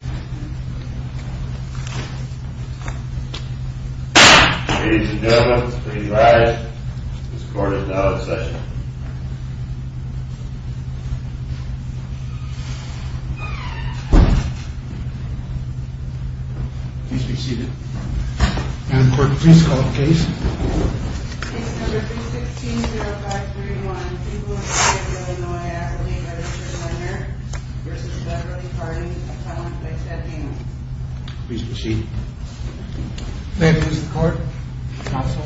Ladies and gentlemen, please rise. This court is now in session. Please be seated. Madam Court, please call the case. Case No. 316-0531, People of the State of Illinois, Affiliate Registered Lender v. Beverly Harding, Account by Ted Hamel. Please be seated. Madam Court, Counsel,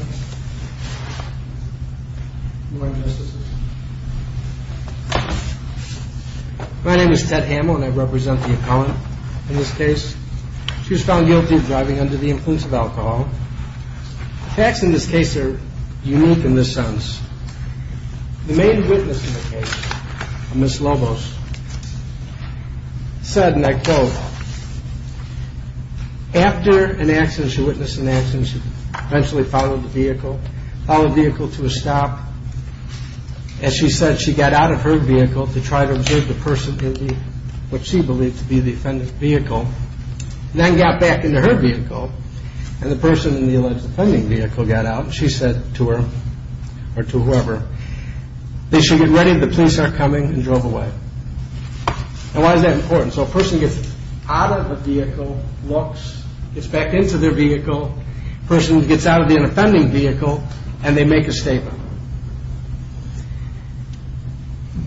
Your Honor. My name is Ted Hamel and I represent the accountant in this case. She was found guilty of driving under the influence of alcohol. The facts in this case are unique in this sense. The main witness in the case, Ms. Lobos, said in that quote, after an accident, she witnessed an accident, she eventually followed the vehicle, followed the vehicle to a stop. As she said, she got out of her vehicle to try to observe the person in what she believed to be the offender's vehicle, then got back into her vehicle and the person in the alleged offending vehicle got out. She said to her or to whoever, they should get ready, the police are coming, and drove away. And why is that important? So a person gets out of a vehicle, looks, gets back into their vehicle, person gets out of the offending vehicle, and they make a statement.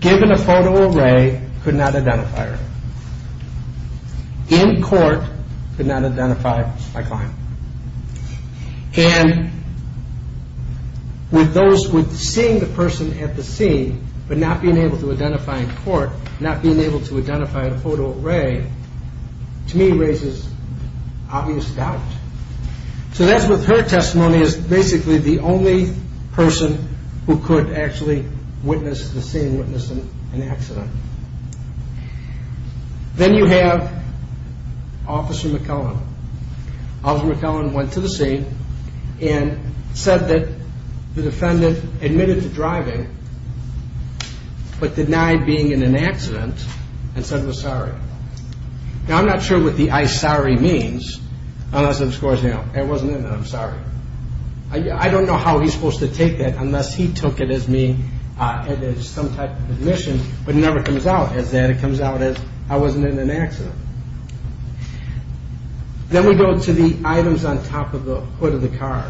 Given a photo array, could not identify her. In court, could not identify my client. And with those, with seeing the person at the scene, but not being able to identify in court, not being able to identify in a photo array, to me raises obvious doubt. So that's what her testimony is, basically the only person who could actually witness the scene, witness an accident. Then you have Officer McKellen. Officer McKellen went to the scene and said that the defendant admitted to driving, but denied being in an accident and said he was sorry. Now I'm not sure what the I'm sorry means, unless it was, I wasn't in it, I'm sorry. I don't know how he's supposed to take that unless he took it as some type of admission, but it never comes out as that, it comes out as I wasn't in an accident. Then we go to the items on top of the hood of the car.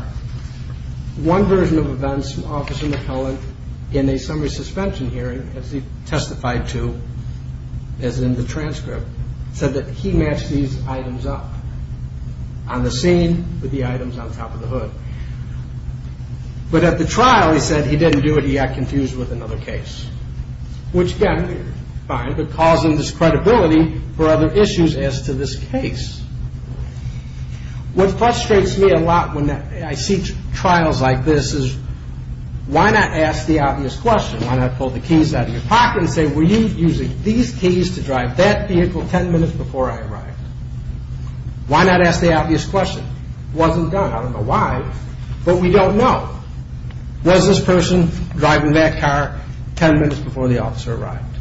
One version of events from Officer McKellen in a summary suspension hearing, as he testified to as in the transcript, said that he matched these items up. On the scene, with the items on top of the hood. But at the trial, he said he didn't do it, he got confused with another case. Which again, fine, but causing this credibility for other issues as to this case. What frustrates me a lot when I see trials like this is why not ask the obvious question? Why not pull the keys out of your pocket and say, were you using these keys to drive that vehicle ten minutes before I arrived? Why not ask the obvious question? It wasn't done, I don't know why, but we don't know. Was this person driving that car ten minutes before the officer arrived?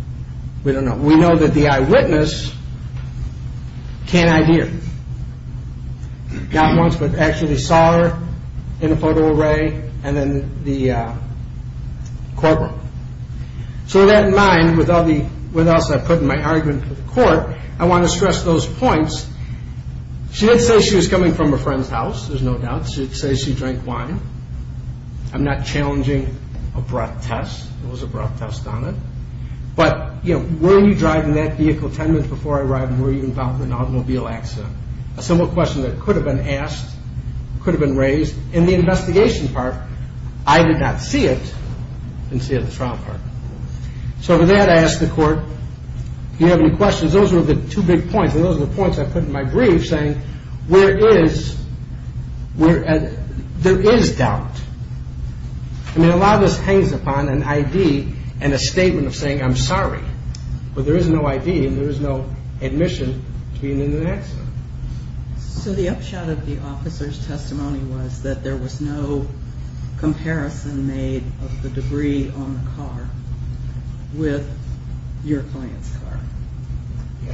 We don't know. We know that the eyewitness can't idea. Not once, but actually saw her in a photo array and then the courtroom. So with that in mind, with all the else I put in my argument to the court, I want to stress those points. She did say she was coming from a friend's house, there's no doubt. She did say she drank wine. I'm not challenging a breath test, there was a breath test on it. But were you driving that vehicle ten minutes before I arrived and were you involved in an automobile accident? A simple question that could have been asked, could have been raised. In the investigation part, I did not see it. I didn't see it in the trial part. So with that, I ask the court, do you have any questions? Those are the two big points, and those are the points I put in my brief saying, where is, there is doubt. I mean, a lot of this hangs upon an ID and a statement of saying, I'm sorry. But there is no ID and there is no admission to be in an accident. So the upshot of the officer's testimony was that there was no comparison made of the debris on the car with your client's car.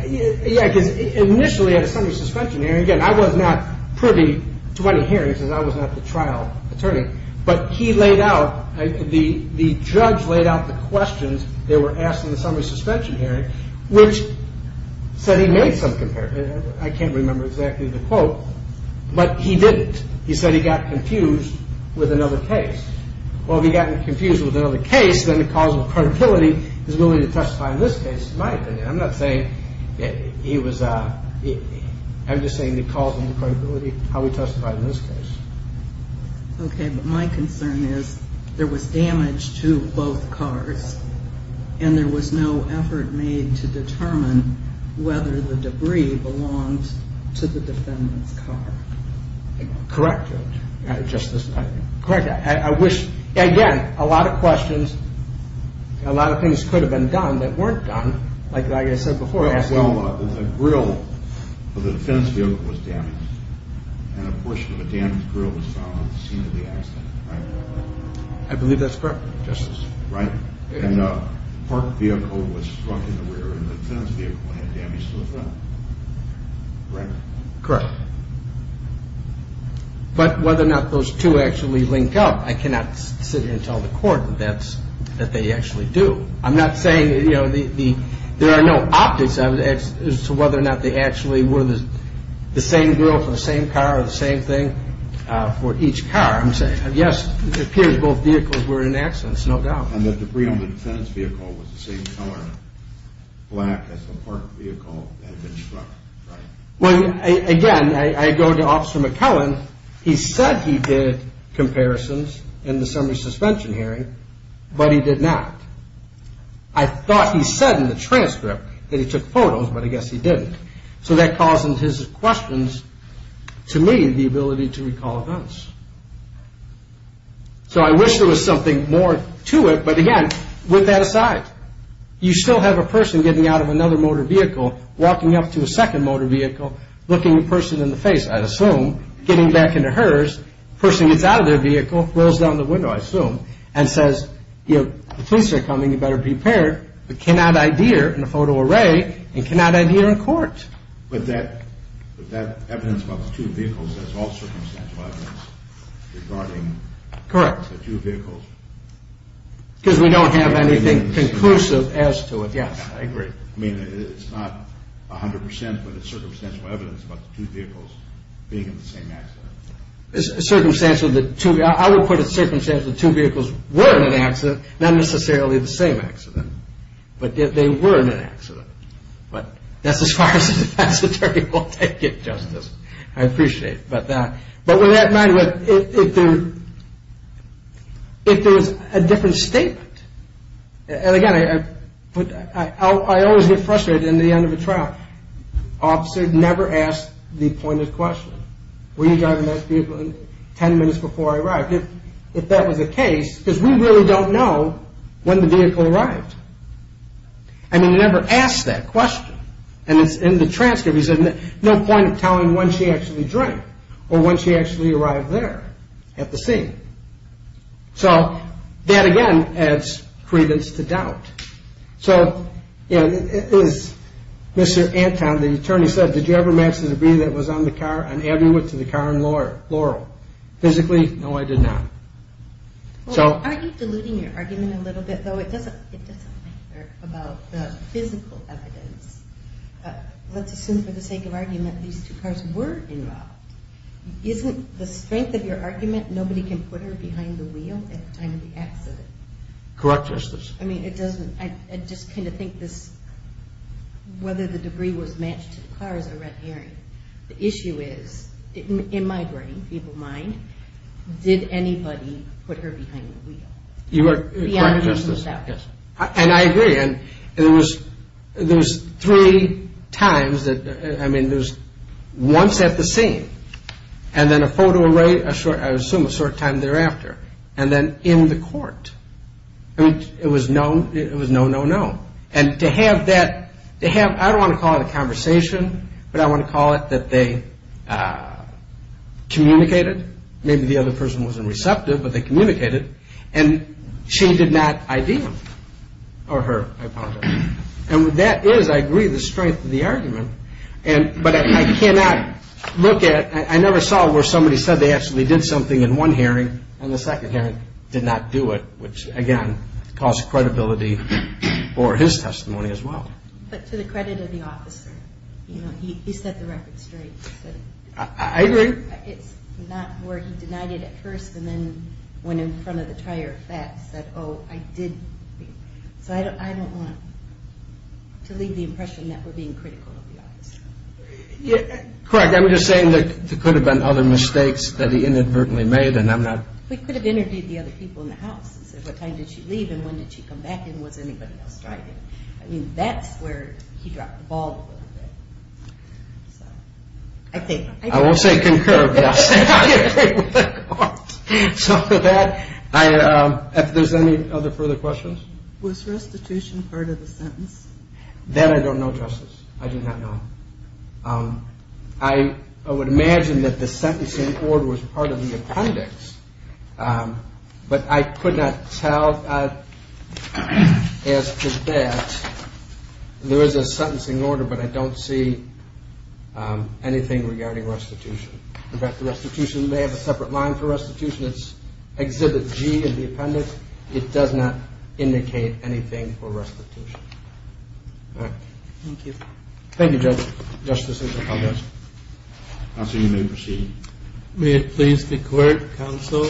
Yeah, because initially at a Sunday suspension hearing, again, I was not privy to any hearings because I was not the trial attorney. But he laid out, the judge laid out the questions that were asked in the Summary Suspension Hearing, which said he made some comparison. I can't remember exactly the quote, but he didn't. He said he got confused with another case. Well, if he got confused with another case, then the causal credibility, his ability to testify in this case, in my opinion, I'm not saying he was, I'm just saying the causal credibility, how he testified in this case. Okay, but my concern is there was damage to both cars and there was no effort made to determine whether the debris belonged to the defendant's car. Correct, Judge. Correct. I wish, again, a lot of questions, a lot of things could have been done that weren't done, like I said before. Well, a grill of the defense vehicle was damaged and a portion of a damaged grill was found at the scene of the accident, right? I believe that's correct, Justice. Right, and a parked vehicle was struck in the rear and the defense vehicle had damage to the front, correct? Correct. But whether or not those two actually link up, I cannot sit here and tell the court that they actually do. I'm not saying, you know, there are no optics as to whether or not they actually were the same grill for the same car or the same thing for each car. I'm saying, yes, it appears both vehicles were in accidents, no doubt. And the debris on the defense vehicle was the same color, black, as the parked vehicle that had been struck, right? Well, again, I go to Officer McCullen. He said he did comparisons in the summary suspension hearing, but he did not. I thought he said in the transcript that he took photos, but I guess he didn't. So that causes his questions to me the ability to recall events. So I wish there was something more to it, but again, with that aside, you still have a person getting out of another motor vehicle, walking up to a second motor vehicle, looking the person in the face, I assume, getting back into hers, person gets out of their vehicle, rolls down the window, I assume, and says, you know, the police are coming, you better be prepared, but cannot adhere in a photo array and cannot adhere in court. But that evidence about the two vehicles, that's all circumstantial evidence regarding the two vehicles. Correct. Because we don't have anything conclusive as to it, yes. I agree. I mean, it's not 100 percent, but it's circumstantial evidence about the two vehicles being in the same accident. Circumstantially, I would put it circumstantially, the two vehicles were in an accident, not necessarily the same accident, but they were in an accident. But that's as far as the defense attorney will take it, Justice. I appreciate that. But with that in mind, if there was a different statement, and again, I always get frustrated in the end of a trial, an officer never asked the appointed question, were you driving that vehicle 10 minutes before I arrived, if that was the case, because we really don't know when the vehicle arrived. I mean, he never asked that question. And it's in the transcript, he said, no point in telling when she actually drank or when she actually arrived there at the scene. So that, again, adds credence to doubt. So, you know, it was Mr. Anton, the attorney, said, did you ever match the debris that was on the car on Averywood to the car in Laurel? Physically, no, I did not. Well, aren't you diluting your argument a little bit, though? It doesn't matter about the physical evidence. Let's assume for the sake of argument these two cars were involved. Isn't the strength of your argument nobody can put her behind the wheel at the time of the accident? Correct, Justice. I mean, it doesn't – I just kind of think this – whether the debris was matched to the car is a red herring. The issue is, in my brain, people's mind, did anybody put her behind the wheel? You are correct, Justice. And I agree, and there was three times that – I mean, there was once at the scene, and then a photo – I assume a short time thereafter, and then in the court. I mean, it was no, no, no. And to have that – I don't want to call it a conversation, but I want to call it that they communicated. Maybe the other person wasn't receptive, but they communicated, and she did not ID him – or her, I apologize. And that is, I agree, the strength of the argument, but I cannot look at – I never saw where somebody said they actually did something in one hearing, and the second hearing did not do it, which, again, costs credibility for his testimony as well. But to the credit of the officer, you know, he set the record straight. I agree. It's not where he denied it at first, and then went in front of the tire of facts, said, oh, I did – so I don't want to leave the impression that we're being critical of the officer. Correct. I'm just saying there could have been other mistakes that he inadvertently made, and I'm not – We could have interviewed the other people in the house and said, what time did she leave and when did she come back, and was anybody else driving? I mean, that's where he dropped the ball a little bit. So I think – I will say concur, yes. I agree with the court. So with that, if there's any other further questions. Was restitution part of the sentence? That I don't know, Justice. I do not know. I would imagine that the sentencing order was part of the appendix, but I could not tell as to that. There is a sentencing order, but I don't see anything regarding restitution. In fact, the restitution may have a separate line for restitution. It's Exhibit G of the appendix. All right. Thank you. Thank you, Justice. I'll assume you may proceed. May it please the Court, Counsel,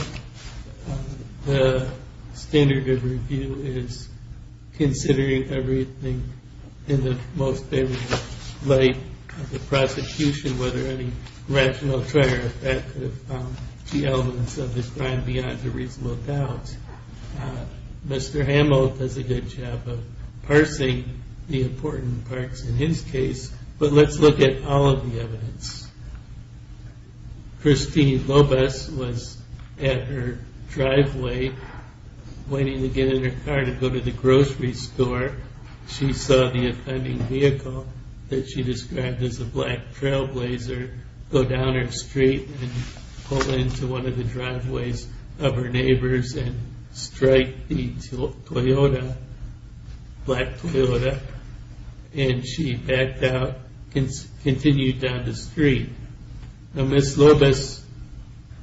the standard of review is considering everything in the most favorable light of the prosecution, whether any rational trigger effect of the elements of this crime beyond a reasonable doubt. Mr. Hamill does a good job of parsing the important parts in his case, but let's look at all of the evidence. Christine Lopez was at her driveway waiting to get in her car to go to the grocery store. She saw the offending vehicle that she described as a black trailblazer go down her street and pull into one of the driveways of her neighbors and strike the Toyota, black Toyota, and she backed out and continued down the street. Now, Ms. Lopez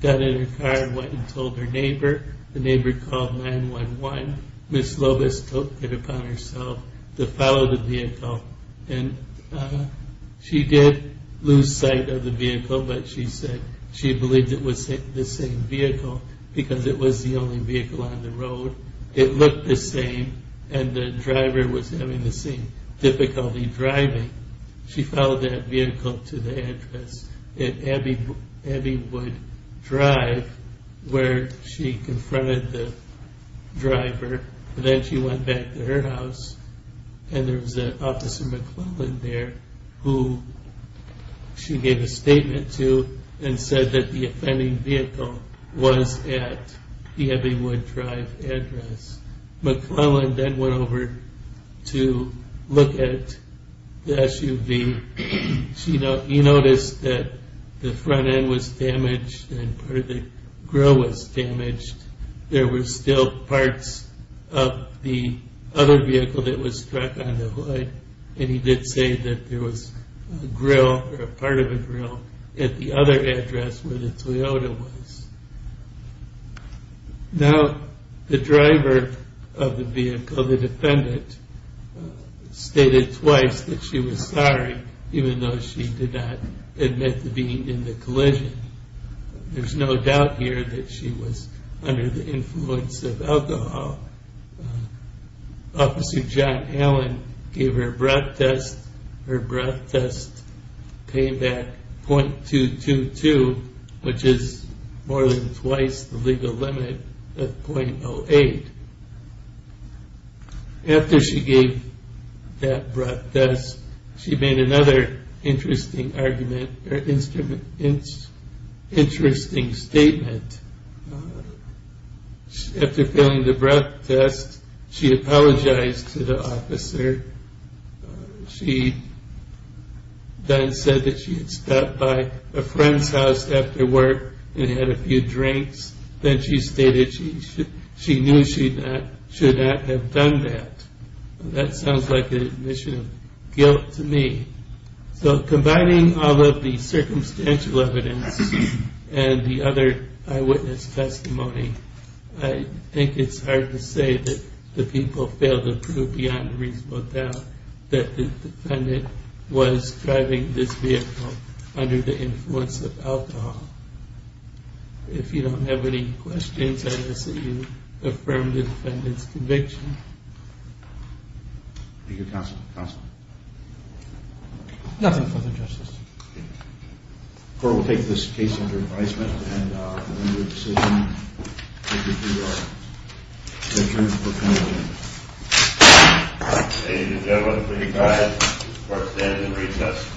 got in her car and went and told her neighbor. The neighbor called 911. Ms. Lopez took it upon herself to follow the vehicle, and she did lose sight of the vehicle, but she believed it was the same vehicle because it was the only vehicle on the road. It looked the same, and the driver was having the same difficulty driving. She followed that vehicle to the address that Abby would drive where she confronted the driver. Then she went back to her house, and there was an Officer McClellan there who she gave a statement to and said that the offending vehicle was at the Abby would drive address. McClellan then went over to look at the SUV. He noticed that the front end was damaged and part of the grille was damaged. There were still parts of the other vehicle that was struck on the hood, and he did say that there was a grille or a part of a grille at the other address where the Toyota was. Now, the driver of the vehicle, the defendant, stated twice that she was sorry, even though she did not admit to being in the collision. There's no doubt here that she was under the influence of alcohol. Officer John Allen gave her breath test. Her breath test came back .222, which is more than twice the legal limit of .08. After she gave that breath test, she made another interesting argument or interesting statement. After filling the breath test, she apologized to the officer. She then said that she had stopped by a friend's house after work and had a few drinks. Then she stated she knew she should not have done that. That sounds like an admission of guilt to me. So combining all of the circumstantial evidence and the other eyewitness testimony, I think it's hard to say that the people failed to prove beyond reasonable doubt that the defendant was driving this vehicle under the influence of alcohol. If you don't have any questions, I will see you. Affirm the defendant's conviction. Thank you, Counselor. Counselor? Nothing further, Justice. Court will take this case under advisement. And we'll end the decision. Thank you, Your Honor. Thank you. Ladies and gentlemen, please go ahead. Court stands in recess.